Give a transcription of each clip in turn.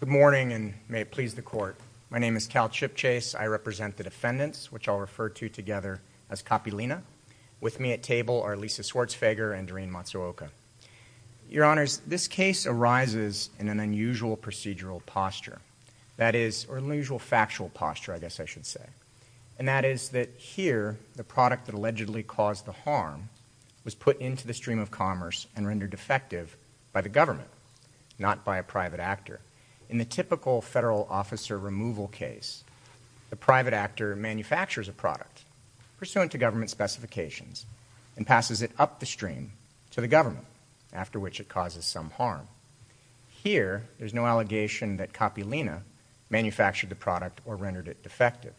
Good morning, and may it please the court. My name is Cal Chipchase. I represent the defendants, which I'll refer to together as Kapilina. With me at table are Lisa Schwarzfeger and Doreen Matsuoka. Your Honors, this case arises in an unusual procedural posture. That is, or unusual factual posture, I guess I should say. And that is that here, the product that allegedly caused the harm was put into the stream of commerce and rendered defective by the government, not by a private actor. In the typical federal officer removal case, the private actor manufactures a product pursuant to government specifications and passes it up the stream to the government, after which it causes some harm. Here, there's no allegation that Kapilina manufactured the product or rendered it defective.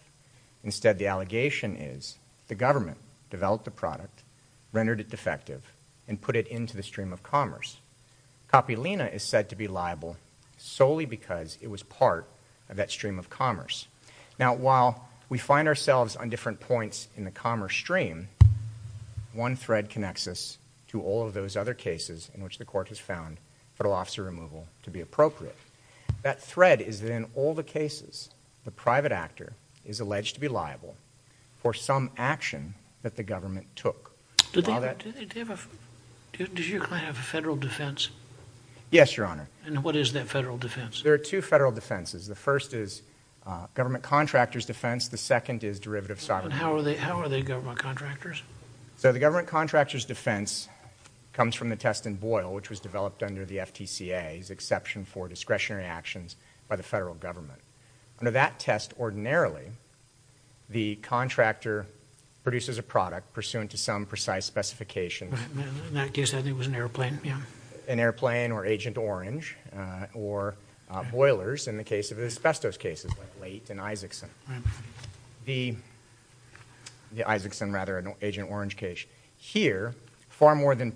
Instead, the allegation is the government developed the product, rendered it defective, and put it into the stream of commerce. Kapilina is said to be liable solely because it was part of that stream of commerce. Now, while we find ourselves on different points in the commerce stream, one thread connects us to all of those other cases in which the court has found federal officer removal to be appropriate. That thread is that in all the cases, the private actor is alleged to be liable for some action that the government took. Do you have a federal defense? Yes, Your Honor. And what is that federal defense? There are two federal defenses. The first is government contractors defense. The second is derivative sovereignty. And how are they government contractors? So the government contractors defense comes from the test in Boyle, which was developed under the FTCA's exception for discretionary actions by the federal government. Under that test, ordinarily, the contractor produces a product pursuant to some precise specifications. In that case, I think it was an airplane. Yeah, an airplane or Agent Orange or boilers in the case of asbestos cases like Leight and Isakson. The Isakson, rather, Agent Orange case. Here, far more than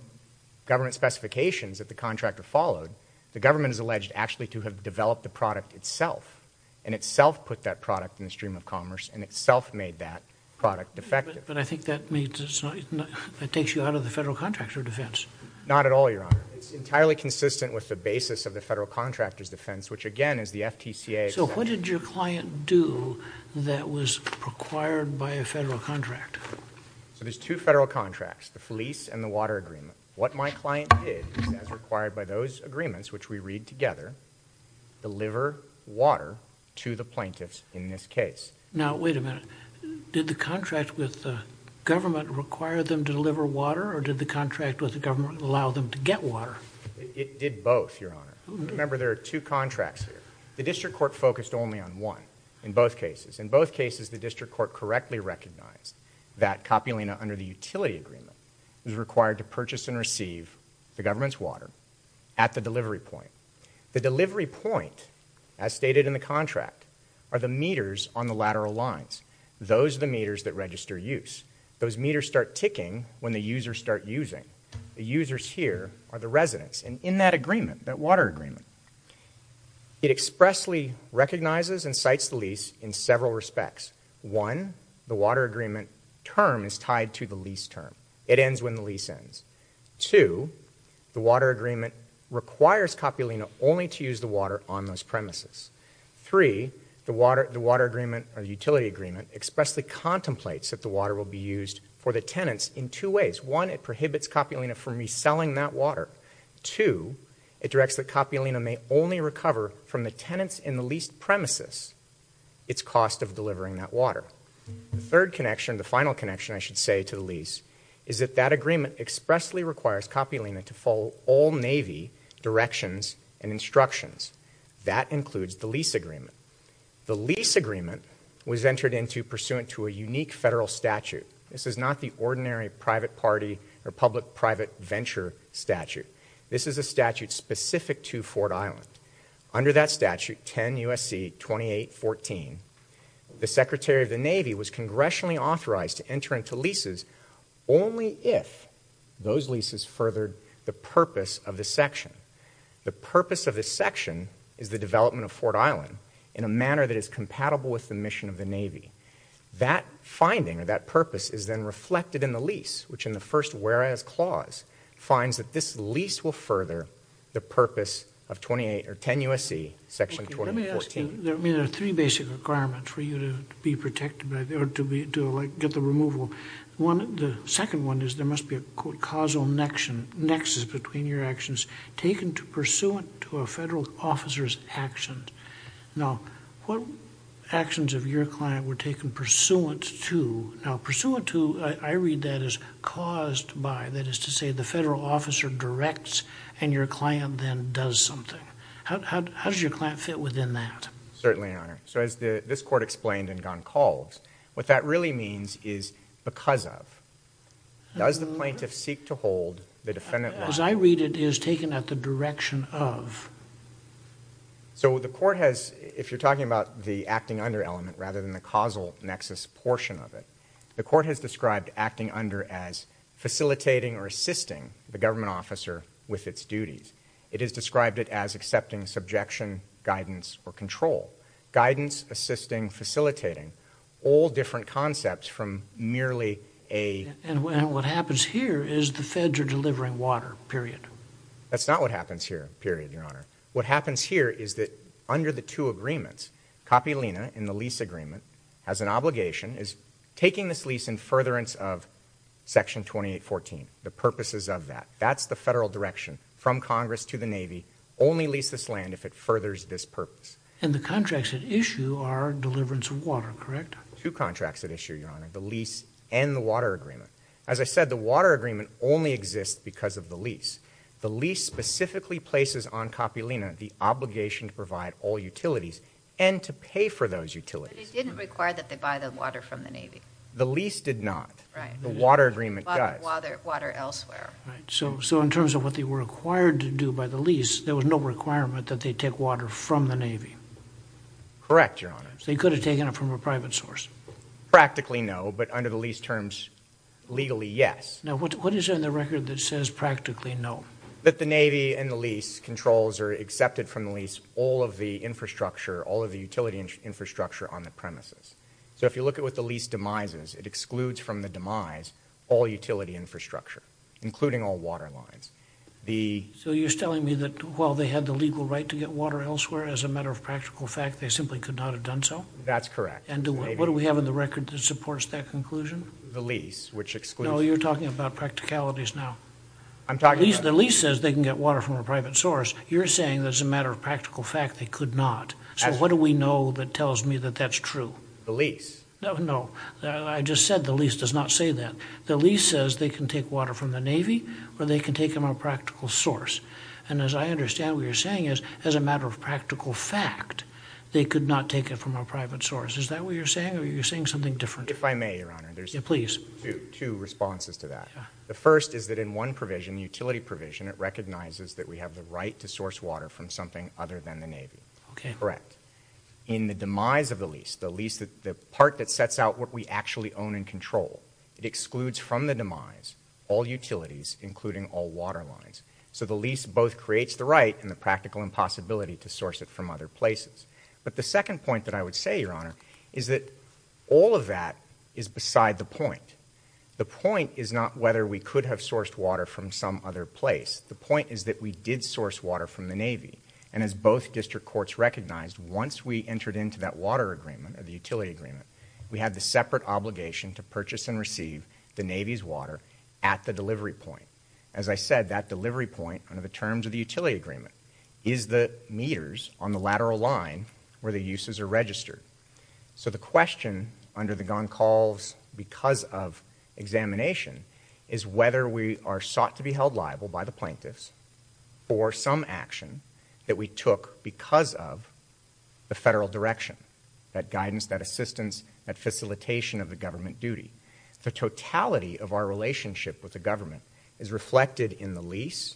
government specifications that the contractor followed, the government is alleged actually to have developed the product itself and itself put that product in the stream of commerce and itself made that product defective. But I think that means it takes you out of the federal contractor defense. Not at all, Your Honor. It's entirely consistent with the basis of the federal contractors defense, which again is the FTCA. So what did your client do that was required by a federal contract? So there's two federal contracts, the fleece and the water agreement. What my client did, as required by those agreements, which we read together, deliver water to the plaintiffs in this case. Now, wait a minute. Did the contract with the government require them to deliver water or did the contract with the government allow them to get water? It did both, Your Honor. Remember, there are two contracts here. The district court focused only on one in both cases. In both cases, the district court correctly recognized that Coppolina, under the utility agreement, is required to purchase and receive the government's water at the delivery point. The delivery point, as stated in the contract, are the meters on the lateral lines. Those are the meters that register use. Those meters start ticking when the users start using. The users here are the residents. And in that agreement, that water agreement, it expressly recognizes and cites the lease in several respects. One, the water agreement term is tied to the lease term. It ends when the lease ends. Two, the water agreement requires Coppolina only to use the water on those premises. Three, the water agreement or the utility agreement expressly contemplates that the water will be used for the tenants in two ways. One, it prohibits Coppolina from reselling that water. Two, it directs that Coppolina may only recover from the tenants in the leased premises its cost of delivering that water. The third connection, the final connection, I should say, to the lease is that that agreement expressly requires Coppolina to follow all Navy directions and instructions. That includes the lease agreement. The lease agreement was entered into pursuant to a unique federal statute. This is not the ordinary private party or public-private venture statute. This is a statute specific to Fort Island. Under that statute, 10 U.S.C. 2814, the Secretary of the Navy was congressionally authorized to enter into leases only if those leases furthered the purpose of the section. The purpose of this section is the development of Fort Island in a manner that is compatible with the mission of the Navy. That finding or that purpose is then reflected in the lease, which in the first whereas clause finds that this lease will further the purpose of 28 or 10 U.S.C. Section 2814. There are three basic requirements for you to be protected by the order to get the removal. The second one is there must be a causal nexus between your actions taken to pursuant to a federal officer's action. Now, what actions of your client were taken pursuant to? Now, pursuant to, I read that as caused by. That is to say, the federal officer directs and your client then does something. How does your client fit within that? Certainly, Your Honor. So, as this court explained in Goncalves, what that really means is because of. Does the plaintiff seek to hold the defendant liable? As I read it, it is taken at the direction of. So, the court has, if you're talking about the acting under element rather than the causal nexus portion of it, the court has described acting under as facilitating or assisting the government officer with its duties. It has described it as accepting subjection, guidance, or control. Guidance, assisting, facilitating, all different concepts from merely a. And what happens here is the feds are delivering water, period. That's not what happens here, period, Your Honor. What happens here is that under the two agreements, Kapilina, in the lease agreement, has an obligation, is taking this lease in furtherance of Section 2814. The purposes of that. That's the federal direction from Congress to the Navy. Only lease this land if it furthers this purpose. And the contracts at issue are deliverance of water, correct? Two contracts at issue, Your Honor. The lease and the water agreement. As I said, the water agreement only exists because of the lease. The lease specifically places on Kapilina the obligation to provide all utilities and to pay for those utilities. But it didn't require that they buy the water from the Navy. The lease did not. The water agreement does. So in terms of what they were required to do by the lease, there was no requirement that they take water from the Navy. Correct, Your Honor. They could have taken it from a private source. Practically, no. But under the lease terms, legally, yes. Now what is in the record that says practically no? That the Navy and the lease controls are accepted from the lease all of the infrastructure, all of the utility infrastructure on the premises. So if you look at what the lease demises, it excludes from the demise all utility infrastructure, including all water lines. So you're telling me that while they had the legal right to get water elsewhere, as a matter of practical fact, they simply could not have done so? That's correct. And what do we have in the record that supports that conclusion? The lease, which excludes... No, you're talking about practicalities now. I'm talking about... The lease says they can get water from a private source. You're saying that as a matter of practical fact, they could not. So what do we know that tells me that that's true? The lease. No, no. I just said the lease does not say that. The lease says they can take water from the Navy, or they can take them a practical source. And as I understand what you're saying is, as a matter of practical fact, they could not take it from a private source. Is that what you're saying, or are you saying something different? If I may, Your Honor, there's two responses to that. The first is that in one provision, the utility provision, it recognizes that we have the right to source water from something other than the Navy. Okay. Correct. In the demise of the lease, the lease, the part that sets out what we actually own and control, it excludes from the demise all utilities, including all water lines. So the lease both creates the right and the practical impossibility to source it from other places. But the second point that I would say, Your Honor, is that all of that is beside the point. The point is not whether we could have sourced water from some other place. The point is that we did source water from the Navy. And as both district courts recognized, once we entered into that water agreement or the utility agreement, we had the separate obligation to purchase and receive the Navy's water at the delivery point. As I said, that delivery point, under the terms of the utility agreement, is the meters on the lateral line where the uses are registered. So the question under the Goncalves, because of examination, is whether we are sought to be held liable by the plaintiffs for some action that we took because of the federal direction, that guidance, that assistance, that facilitation of the government duty. The totality of our relationship with the government is reflected in the lease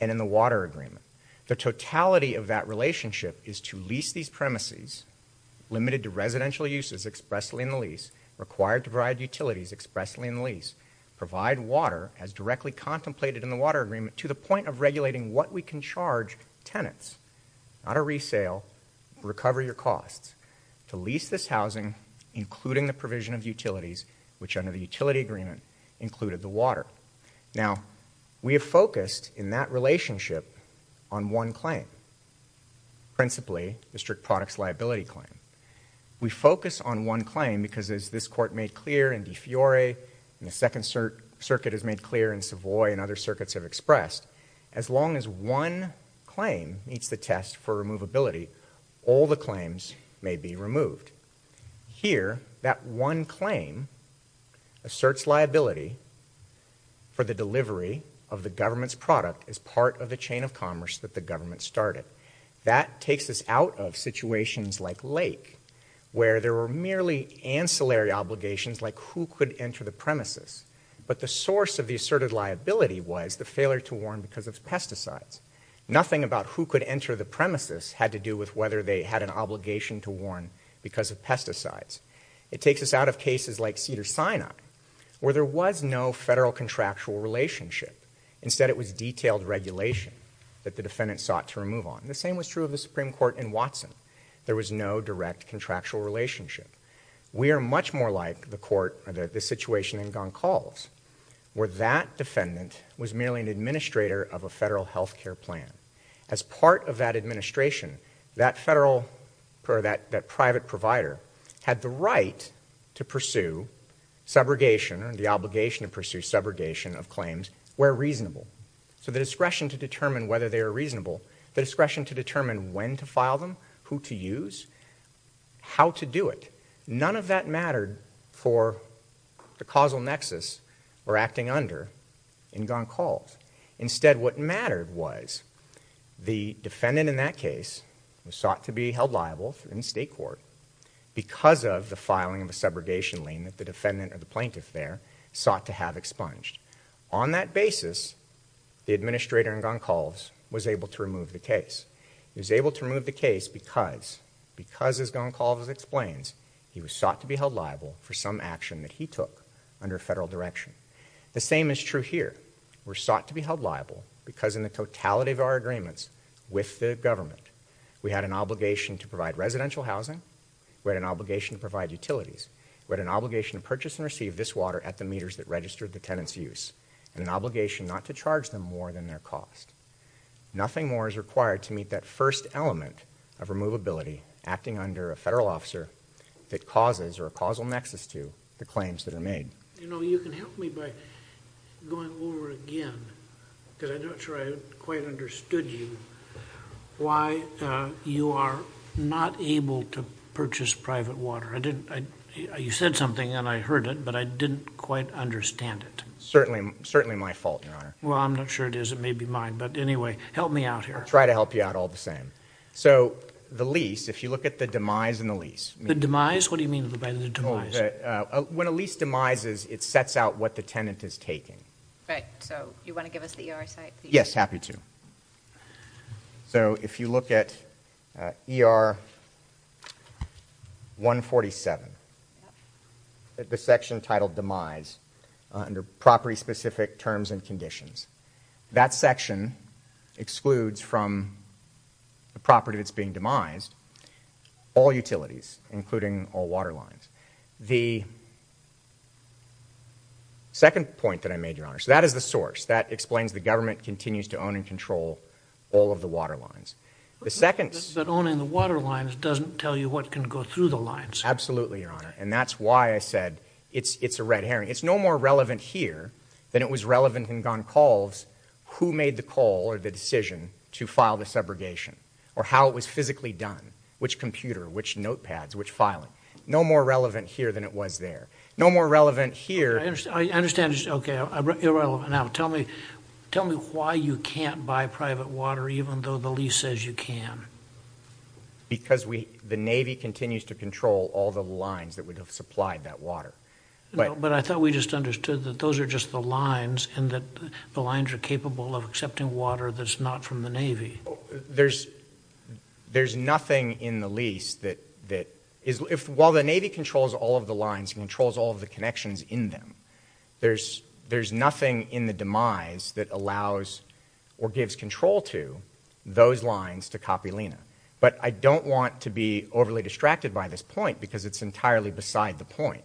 and in the water agreement. The totality of that relationship is to lease these premises, limited to residential uses expressly in the lease, required to provide utilities expressly in the lease, provide water as directly contemplated in the water agreement, to the point of regulating what we can charge tenants, not a resale, recover your costs, to lease this housing, including the provision of utilities, which under the utility agreement included the water. Now, we have focused in that relationship on one claim, principally the strict products liability claim. We focus on one claim because, as this Court made clear in De Fiore and the Second Circuit has made clear in Savoy and other circuits have expressed, as long as one claim meets the test for removability, all the claims may be removed. Here, that one claim asserts liability for the delivery of the government's product as part of the chain of commerce that the government started. That takes us out of situations like Lake, where there were merely ancillary obligations like who could enter the premises. But the source of the asserted liability was the failure to warn because of pesticides. Nothing about who could enter the premises had to do with whether they had an obligation to warn because of pesticides. It takes us out of cases like Cedars-Sinai, where there was no federal contractual relationship. Instead, it was detailed regulation that the defendant sought to remove on. The same was true of the Supreme Court in Watson. There was no direct contractual relationship. We are much more like the court, or the situation in Goncalves, where that defendant was merely an administrator of a federal health care plan. As part of that administration, that private provider had the right to pursue subrogation and the obligation to pursue subrogation of claims where reasonable. So the discretion to determine whether they are reasonable, the discretion to determine when to file them, who to use, how to do it. None of that mattered for the causal nexus we're acting under in Goncalves. Instead, what mattered was the defendant in that case was sought to be held liable in state court because of the filing of a subrogation lien that the defendant or the plaintiff there sought to have expunged. On that basis, the administrator in Goncalves was able to remove the case. He was able to remove the case because, as Goncalves explains, he was sought to be held liable for some action that he took under federal direction. The same is true here. We're sought to be held liable because in the totality of our agreements with the government, we had an obligation to provide residential housing, we had an obligation to provide utilities. We had an obligation to purchase and receive this water at the meters that registered the tenant's use, and an obligation not to charge them more than their cost. Nothing more is required to meet that first element of removability acting under a federal officer that causes or a causal nexus to the claims that are made. You know, you can help me by going over again, because I'm not sure I quite understood you, why you are not able to purchase private water. I didn't, you said something and I heard it, but I didn't quite understand it. Certainly, certainly my fault, your honor. Well, I'm not sure it is, it may be mine, but anyway, help me out here. I'll try to help you out all the same. So, the lease, if you look at the demise and the lease. The demise? What do you mean by the demise? When a lease demises, it sets out what the tenant is taking. Right, so you want to give us the ER site? Yes, happy to. So, if you look at ER 147, the section titled demise under property specific terms and conditions. That section excludes from the property that's being demised all utilities, including all water lines. The second point that I made, your honor, so that is the source. That explains the government continues to own and control all of the water lines. The second- But owning the water lines doesn't tell you what can go through the lines. Absolutely, your honor, and that's why I said it's a red herring. It's no more relevant here than it was relevant in Goncalves who made the call or the decision to file the subrogation, or how it was physically done. Which computer, which notepads, which filing. No more relevant here than it was there. No more relevant here- I understand, okay, irrelevant. Now, tell me why you can't buy private water even though the lease says you can. Because the Navy continues to control all the lines that would have supplied that water. But I thought we just understood that those are just the lines and that the lines are capable of accepting water that's not from the Navy. There's nothing in the lease that, while the Navy controls all of the lines, controls all of the connections in them, there's nothing in the demise that allows or gives control to those lines to Coppelina. But I don't want to be overly distracted by this point because it's entirely beside the point.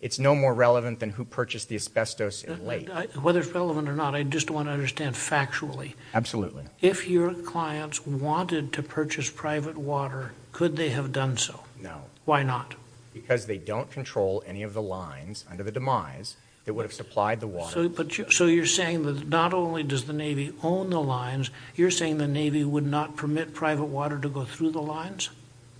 It's no more relevant than who purchased the asbestos in late. Whether it's relevant or not, I just want to understand factually. Absolutely. If your clients wanted to purchase private water, could they have done so? No. Why not? Because they don't control any of the lines under the demise that would have supplied the water. So you're saying that not only does the Navy own the lines, you're saying the Navy would not permit private water to go through the lines?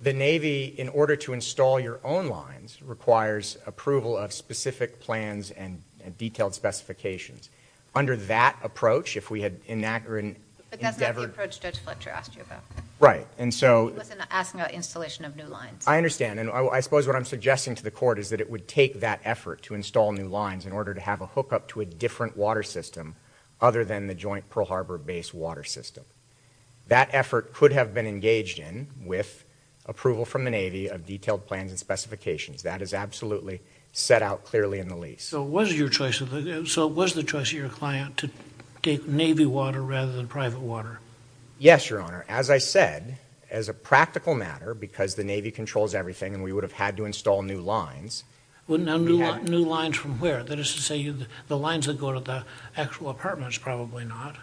The Navy, in order to install your own lines, requires approval of specific plans and detailed specifications. Under that approach, if we had in that or in- But that's not the approach Judge Fletcher asked you about. Right, and so- He wasn't asking about installation of new lines. I understand. And I suppose what I'm suggesting to the court is that it would take that effort to install new lines in order to have a hookup to a different water system other than the joint Pearl Harbor base water system. That effort could have been engaged in with approval from the Navy of detailed plans and specifications. That is absolutely set out clearly in the lease. So it was your choice of- So it was the choice of your client to take Navy water rather than private water? Yes, Your Honor. As I said, as a practical matter, because the Navy controls everything and we would have had to install new lines- Well, now new lines from where? That is to say, the lines that go to the actual apartments, probably not.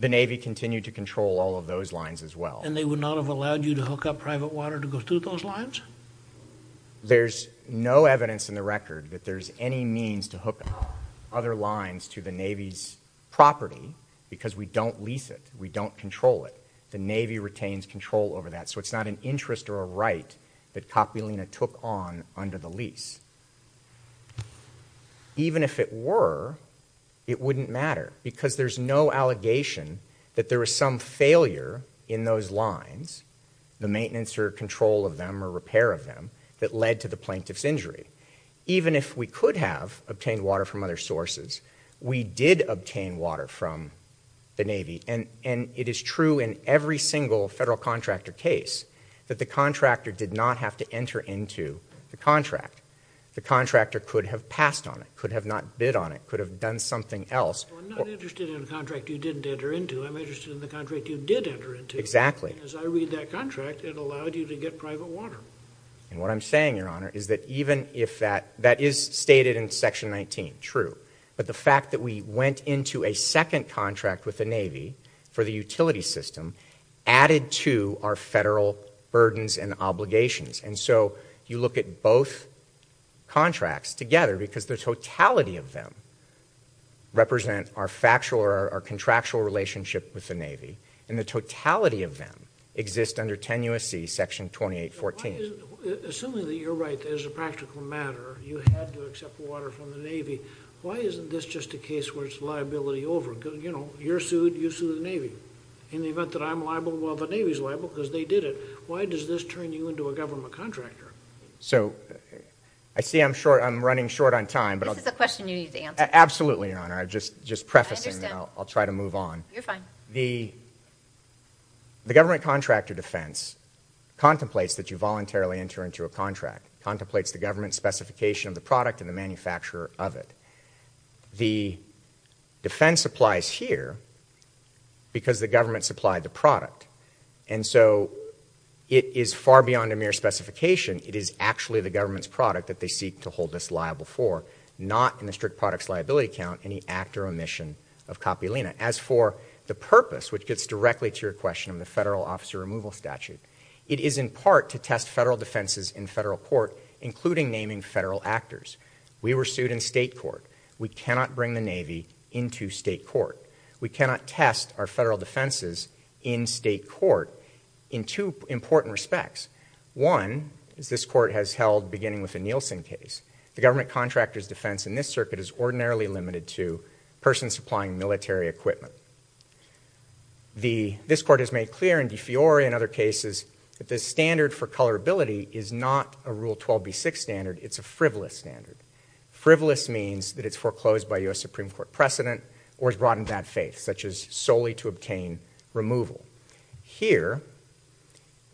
The Navy continued to control all of those lines as well. And they would not have allowed you to hook up private water to go through those lines? There's no evidence in the record that there's any means to hook up other lines to the Navy's property because we don't lease it. We don't control it. The Navy retains control over that. So it's not an interest or a right that Coppelina took on under the lease. Even if it were, it wouldn't matter because there's no allegation that there was some failure in those lines, the maintenance or control of them or repair of them, that led to the plaintiff's injury. Even if we could have obtained water from other sources, we did obtain water from the Navy. And it is true in every single federal contractor case, that the contractor did not have to enter into the contract. The contractor could have passed on it, could have not bid on it, could have done something else. I'm not interested in a contract you didn't enter into. I'm interested in the contract you did enter into. Exactly. Because I read that contract, it allowed you to get private water. And what I'm saying, Your Honor, is that even if that, that is stated in section 19. True. But the fact that we went into a second contract with the Navy for the utility system, added to our federal burdens and obligations. And so you look at both contracts together because the totality of them represent our contractual relationship with the Navy. And the totality of them exist under 10 U.S.C. Section 2814. Assuming that you're right, that as a practical matter, you had to accept water from the Navy. Why isn't this just a case where it's liability over? You're sued, you sue the Navy. In the event that I'm liable, well, the Navy's liable because they did it. Why does this turn you into a government contractor? So, I see I'm short, I'm running short on time. This is a question you need to answer. Absolutely, Your Honor. I'm just, just prefacing, and I'll, I'll try to move on. You're fine. The, the government contractor defense contemplates that you voluntarily enter into a contract. Contemplates the government specification of the product and the manufacturer of it. The defense applies here because the government supplied the product. And so, it is far beyond a mere specification. It is actually the government's product that they seek to hold us liable for. Not in the strict products liability count, any act or omission of copulina. As for the purpose, which gets directly to your question of the federal officer removal statute, it is in part to test federal defenses in federal court, including naming federal actors. We were sued in state court. We cannot bring the Navy into state court. We cannot test our federal defenses in state court in two important respects. One, is this court has held, beginning with the Nielsen case. The government contractor's defense in this circuit is ordinarily limited to persons supplying military equipment. The, this court has made clear in De Fiori and other cases that the standard for colorability is not a rule 12B6 standard, it's a frivolous standard. Frivolous means that it's foreclosed by US Supreme Court precedent or it's brought in bad faith, such as solely to obtain removal. Here,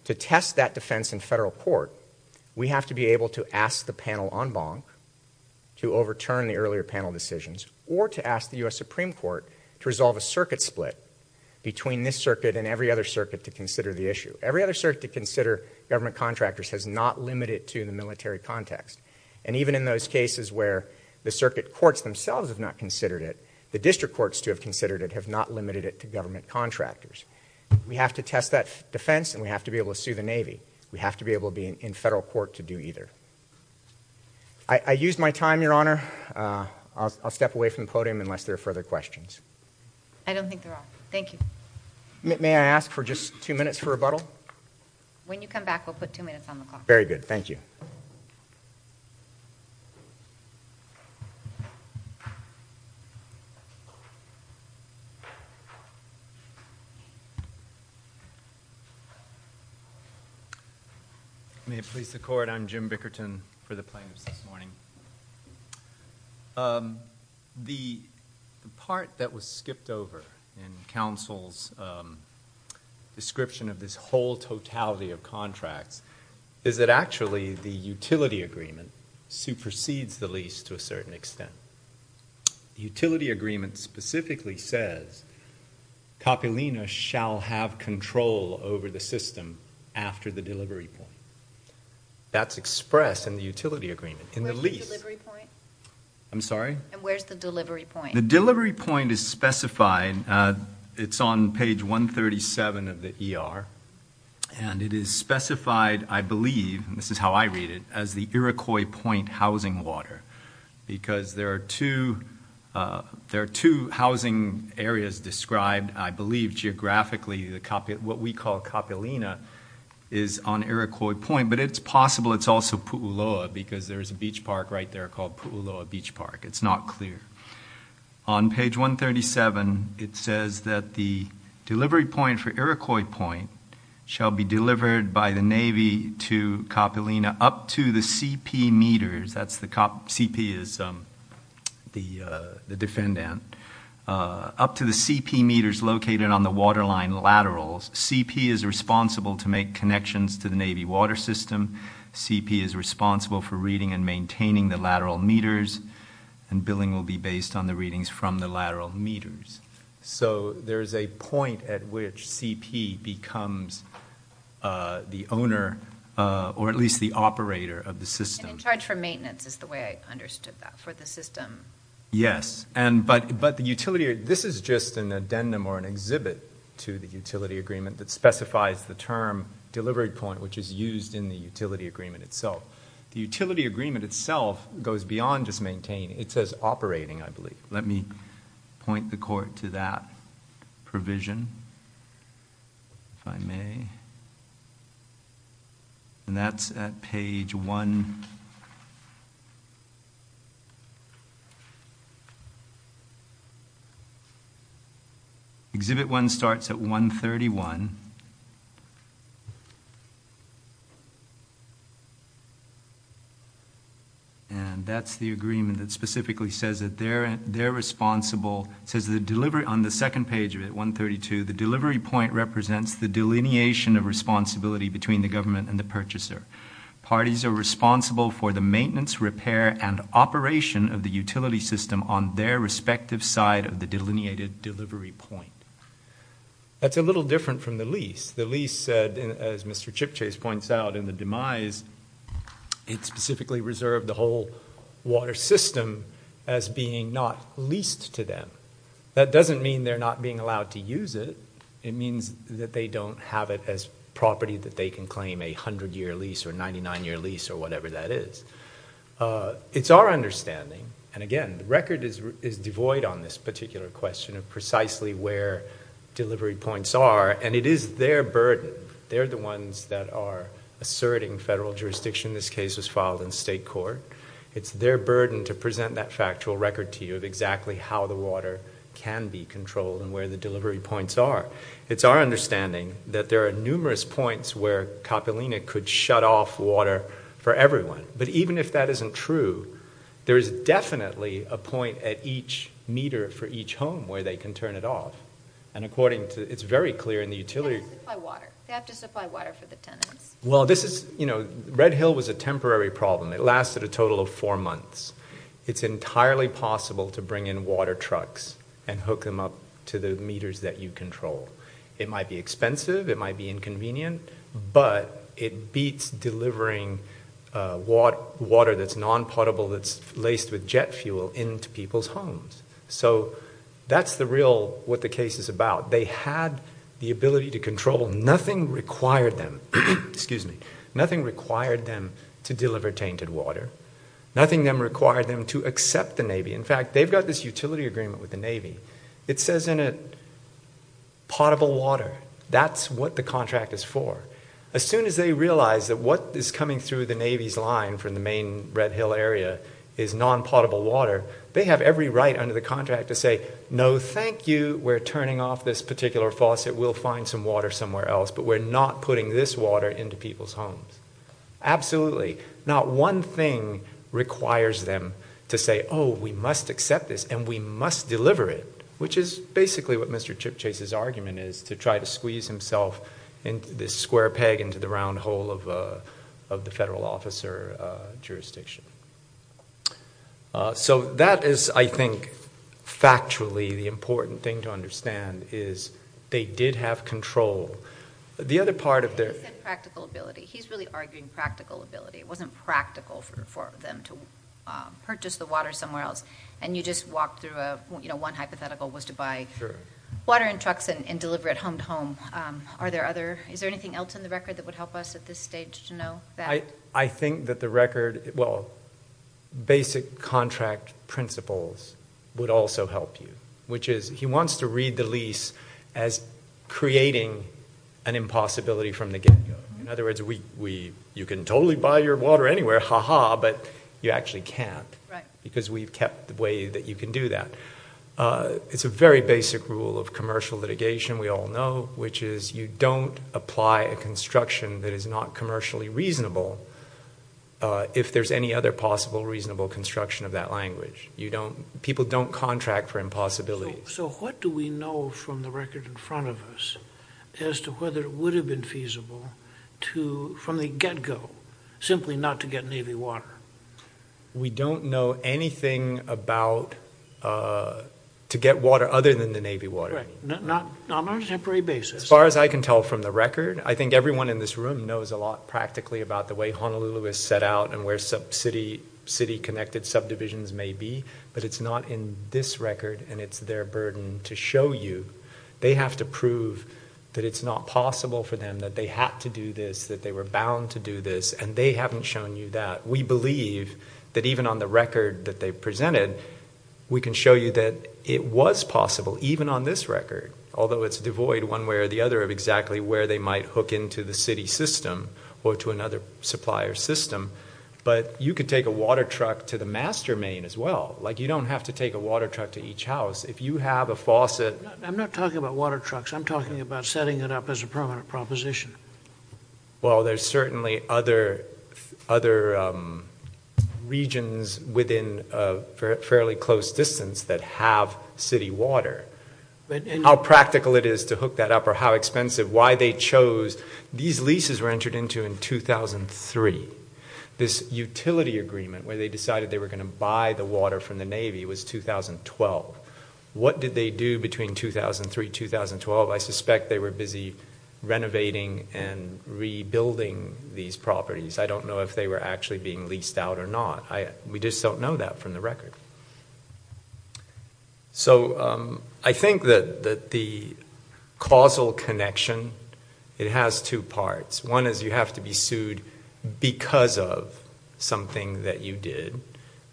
to test that defense in federal court, we have to be able to ask the panel en banc to overturn the earlier panel decisions, or to ask the US Supreme Court to resolve a circuit split between this circuit and every other circuit to consider the issue. Every other circuit to consider government contractors has not limited to the military context. And even in those cases where the circuit courts themselves have not considered it, the district courts to have considered it have not limited it to government contractors. We have to test that defense and we have to be able to sue the Navy. We have to be able to be in federal court to do either. I, I used my time, Your Honor. I'll, I'll step away from the podium unless there are further questions. I don't think there are. Thank you. May, may I ask for just two minutes for rebuttal? When you come back, we'll put two minutes on the clock. Very good. Thank you. May it please the court, I'm Jim Bickerton for the plaintiffs this morning. The, the part that was skipped over in counsel's description of this whole totality of contracts is that actually the utility agreement supersedes the lease to a certain extent. The utility agreement specifically says, Kapilina shall have control over the system after the delivery point. That's expressed in the utility agreement, in the lease. Where's the delivery point? I'm sorry? And where's the delivery point? The delivery point is specified, it's on page 137 of the ER. And it is specified, I believe, and this is how I read it, as the Iroquois Point housing water. Because there are two, there are two housing areas described, I believe, geographically. The, what we call Kapilina is on Iroquois Point. But it's possible it's also Pu'uloa, because there's a beach park right there called Pu'uloa Beach Park. It's not clear. On page 137, it says that the delivery point for Iroquois Point shall be delivered by the Navy to Kapilina up to the CP meters. That's the cop, CP is the defendant. Up to the CP meters located on the waterline laterals. CP is responsible to make connections to the Navy water system. CP is responsible for reading and maintaining the lateral meters. And billing will be based on the readings from the lateral meters. So there's a point at which CP becomes the owner or at least the operator of the system. And in charge for maintenance is the way I understood that, for the system. Yes, and but the utility, this is just an addendum or an exhibit to the utility agreement that specifies the term delivery point which is used in the utility agreement itself. The utility agreement itself goes beyond just maintaining, it says operating, I believe. Let me point the court to that provision, if I may. And that's at page one. Exhibit one starts at 131. And that's the agreement that specifically says that they're responsible. Says the delivery, on the second page of it, 132, the delivery point represents the delineation of responsibility between the government and the purchaser. Parties are responsible for the maintenance, repair, and operation of the utility system on their respective side of the delineated delivery point. That's a little different from the lease. The lease said, as Mr. Chipchase points out, in the demise, it specifically reserved the whole water system as being not leased to them. That doesn't mean they're not being allowed to use it. It means that they don't have it as property that they can claim a 100 year lease or 99 year lease or whatever that is. It's our understanding, and again, the record is devoid on this particular question of precisely where delivery points are. And it is their burden. They're the ones that are asserting federal jurisdiction. This case was filed in state court. It's their burden to present that factual record to you of exactly how the water can be controlled and where the delivery points are. It's our understanding that there are numerous points where Coppelina could shut off water for everyone. But even if that isn't true, there is definitely a point at each meter for each home where they can turn it off. And according to, it's very clear in the utility- They have to supply water. They have to supply water for the tenants. Well, this is, Red Hill was a temporary problem. It lasted a total of four months. It's entirely possible to bring in water trucks and hook them up to the meters that you control. It might be expensive, it might be inconvenient, but it beats delivering water that's non-potable that's laced with jet fuel into people's homes. So that's the real, what the case is about. They had the ability to control, nothing required them, excuse me, nothing required them to deliver tainted water, nothing required them to accept the Navy. In fact, they've got this utility agreement with the Navy. It says in it, potable water, that's what the contract is for. As soon as they realize that what is coming through the Navy's line from the main Red Hill area is non-potable water, they have every right under the contract to say, no, thank you, we're turning off this particular faucet. We'll find some water somewhere else, but we're not putting this water into people's homes. Absolutely, not one thing requires them to say, we must accept this and we must deliver it, which is basically what Mr. Chip Chase's argument is, to try to squeeze himself into this square peg into the round hole of the federal officer jurisdiction. So that is, I think, factually the important thing to understand, is they did have control. The other part of their- He said practical ability. He's really arguing practical ability. It wasn't practical for them to purchase the water somewhere else. And you just walked through, one hypothetical was to buy water in trucks and deliver it home to home. Are there other, is there anything else in the record that would help us at this stage to know that? I think that the record, well, basic contract principles would also help you. Which is, he wants to read the lease as creating an impossibility from the get go. In other words, you can totally buy your water anywhere, ha ha, but you actually can't. Right. Because we've kept the way that you can do that. It's a very basic rule of commercial litigation, we all know, which is you don't apply a construction that is not commercially reasonable if there's any other possible reasonable construction of that language. People don't contract for impossibility. So what do we know from the record in front of us as to whether it would have been feasible from the get go, simply not to get Navy water? We don't know anything about to get water other than the Navy water. Correct, on a temporary basis. As far as I can tell from the record, I think everyone in this room knows a lot practically about the way Honolulu is set out and where sub city connected subdivisions may be, but it's not in this record and it's their burden to show you. They have to prove that it's not possible for them, that they had to do this, that they were bound to do this, and they haven't shown you that. We believe that even on the record that they presented, we can show you that it was possible, even on this record, although it's devoid one way or the other of exactly where they might hook into the city system or to another supplier system. But you could take a water truck to the master main as well, like you don't have to take a water truck to each house. If you have a faucet- I'm not talking about water trucks, I'm talking about setting it up as a permanent proposition. Well, there's certainly other regions within a fairly close distance that have city water. And how practical it is to hook that up or how expensive, why they chose, these leases were entered into in 2003. This utility agreement where they decided they were going to buy the water from the Navy was 2012. What did they do between 2003, 2012? I suspect they were busy renovating and rebuilding these properties. I don't know if they were actually being leased out or not. We just don't know that from the record. So I think that the causal connection, it has two parts. One is you have to be sued because of something that you did.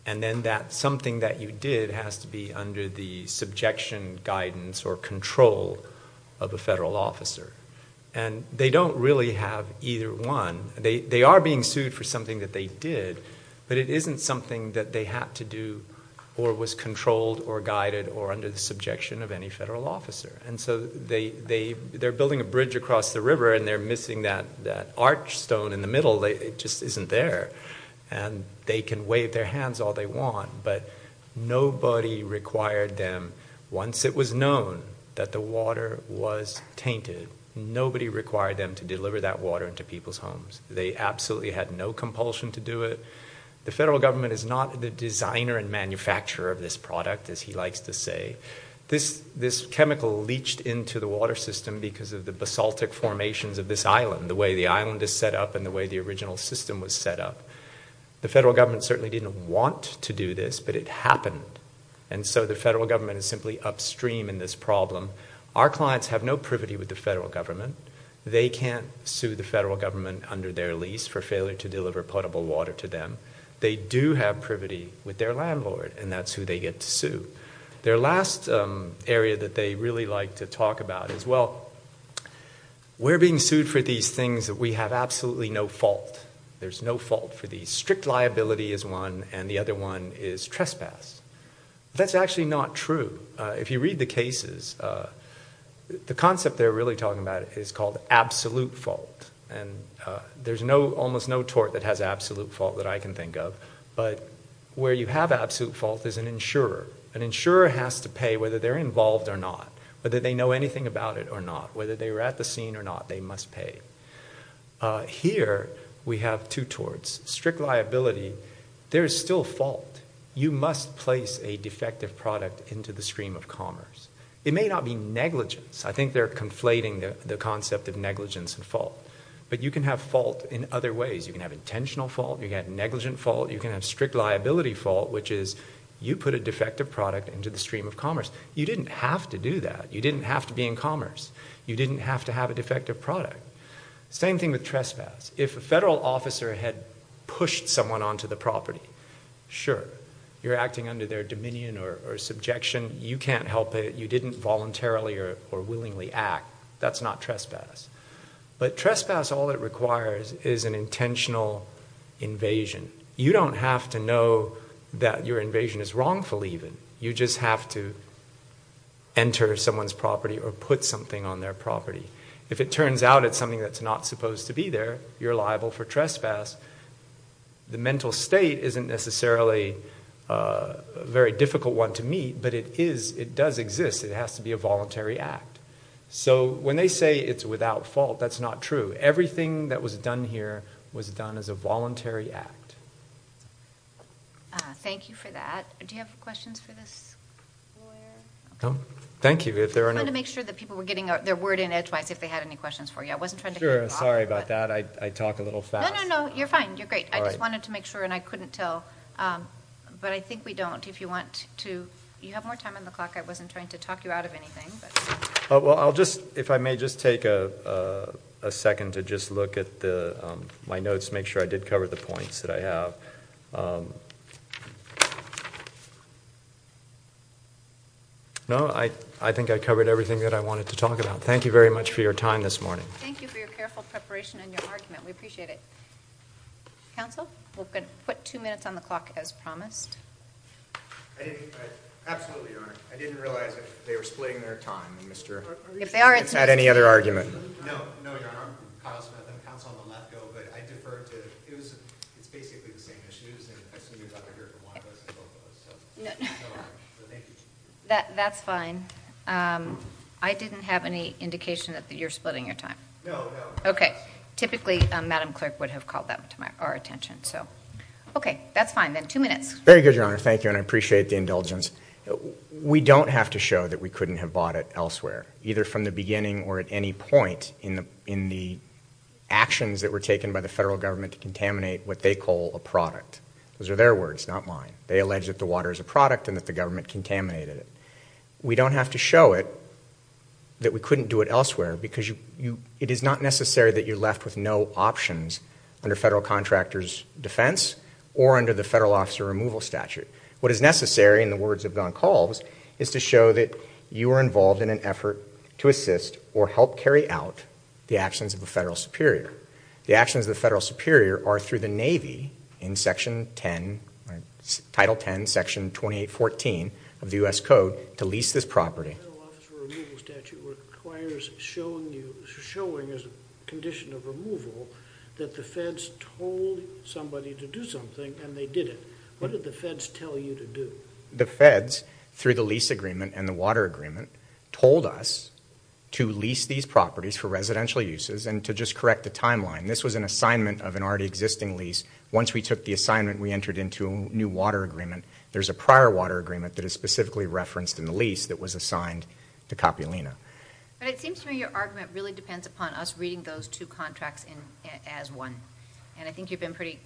And then that something that you did has to be under the subjection, guidance, or control of a federal officer. And they don't really have either one. They are being sued for something that they did, but it isn't something that they had to do or was controlled or guided or under the subjection of any federal officer. And so they're building a bridge across the river and they're missing that arch stone in the middle, it just isn't there. And they can wave their hands all they want, but nobody required them, once it was known that the water was tainted, nobody required them to deliver that water into people's homes. They absolutely had no compulsion to do it. The federal government is not the designer and manufacturer of this product, as he likes to say. This chemical leached into the water system because of the basaltic formations of this island, the way the island is set up and the way the original system was set up. The federal government certainly didn't want to do this, but it happened. And so the federal government is simply upstream in this problem. Our clients have no privity with the federal government. They can't sue the federal government under their lease for failure to deliver potable water to them. They do have privity with their landlord, and that's who they get to sue. Their last area that they really like to talk about is, well, we're being sued for these things that we have absolutely no fault. There's no fault for these. Strict liability is one, and the other one is trespass. That's actually not true. If you read the cases, the concept they're really talking about is called absolute fault. And there's almost no tort that has absolute fault that I can think of. But where you have absolute fault is an insurer. An insurer has to pay whether they're involved or not, whether they know anything about it or not. Whether they were at the scene or not, they must pay. Here, we have two torts. Strict liability, there is still fault. You must place a defective product into the stream of commerce. It may not be negligence. I think they're conflating the concept of negligence and fault. But you can have fault in other ways. You can have intentional fault. You can have negligent fault. You can have strict liability fault, which is you put a defective product into the stream of commerce. You didn't have to do that. You didn't have to be in commerce. You didn't have to have a defective product. Same thing with trespass. If a federal officer had pushed someone onto the property, sure. You're acting under their dominion or subjection. You can't help it. You didn't voluntarily or willingly act. That's not trespass. But trespass, all it requires is an intentional invasion. You don't have to know that your invasion is wrongful even. You just have to enter someone's property or put something on their property. If it turns out it's something that's not supposed to be there, you're liable for trespass. The mental state isn't necessarily a very difficult one to meet, but it is, it does exist. It has to be a voluntary act. So when they say it's without fault, that's not true. Everything that was done here was done as a voluntary act. Thank you for that. Do you have questions for this lawyer? Thank you, if there are no- I wanted to make sure that people were getting their word in edgewise if they had any questions for you. I wasn't trying to get involved. Sure, sorry about that. I talk a little fast. No, no, no, you're fine. You're great. I just wanted to make sure and I couldn't tell, but I think we don't. If you want to, you have more time on the clock. I wasn't trying to talk you out of anything, but. Well, I'll just, if I may just take a second to just look at my notes, make sure I did cover the points that I have. No, I think I covered everything that I wanted to talk about. Thank you very much for your time this morning. Thank you for your careful preparation and your argument. We appreciate it. Counsel, we're going to put two minutes on the clock as promised. Absolutely, Your Honor. I didn't realize that they were splitting their time, and Mr. If they are, it's not any other argument. No, no, Your Honor. Kyle Smith and counsel on the left go, but I defer to, it's basically the same issues, and I assume you'd rather hear from one of us than both of us, so thank you. That's fine. I didn't have any indication that you're splitting your time. No, no. Okay. Typically, Madam Clerk would have called that to our attention, so. Okay, that's fine then. Two minutes. Very good, Your Honor. Thank you, and I appreciate the indulgence. We don't have to show that we couldn't have bought it elsewhere, either from the beginning or at any point in the actions that were taken by the federal government to contaminate what they call a product. Those are their words, not mine. They allege that the water is a product and that the government contaminated it. We don't have to show it, that we couldn't do it elsewhere, because it is not necessary that you're left with no options under federal contractor's defense or under the federal officer removal statute. What is necessary, in the words of Don Calves, is to show that you are involved in an effort to assist or help carry out the actions of a federal superior. The actions of the federal superior are through the Navy in section 10, Title 10, Section 2814 of the US Code, to lease this property. The federal officer removal statute requires showing as a condition of removal that the feds told somebody to do something and they did it. What did the feds tell you to do? The feds, through the lease agreement and the water agreement, told us to lease these properties for residential uses and to just correct the timeline. This was an assignment of an already existing lease. Once we took the assignment, we entered into a new water agreement. There's a prior water agreement that is specifically referenced in the lease that was assigned to Coppelina. But it seems to me your argument really depends upon us reading those two contracts as one. And I think you've been pretty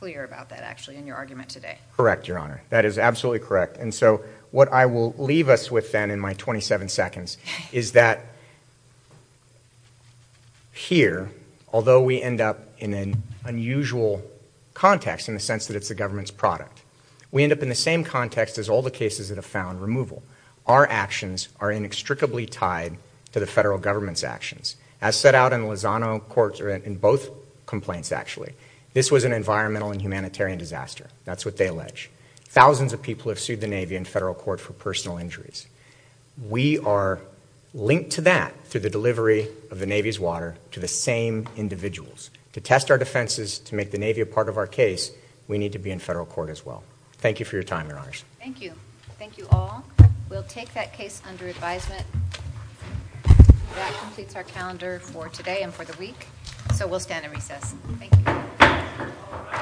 clear about that, actually, in your argument today. Correct, Your Honor. That is absolutely correct. And so, what I will leave us with then in my 27 seconds is that here, although we end up in an unusual context in the sense that it's the government's product. We end up in the same context as all the cases that have found removal. Our actions are inextricably tied to the federal government's actions. As set out in Lozano court, in both complaints actually, this was an environmental and humanitarian disaster. That's what they allege. Thousands of people have sued the Navy and federal court for personal injuries. We are linked to that through the delivery of the Navy's water to the same individuals. To test our defenses, to make the Navy a part of our case, we need to be in federal court as well. Thank you for your time, Your Honors. Thank you. Thank you all. We'll take that case under advisement. That completes our calendar for today and for the week. So we'll stand in recess. Thank you.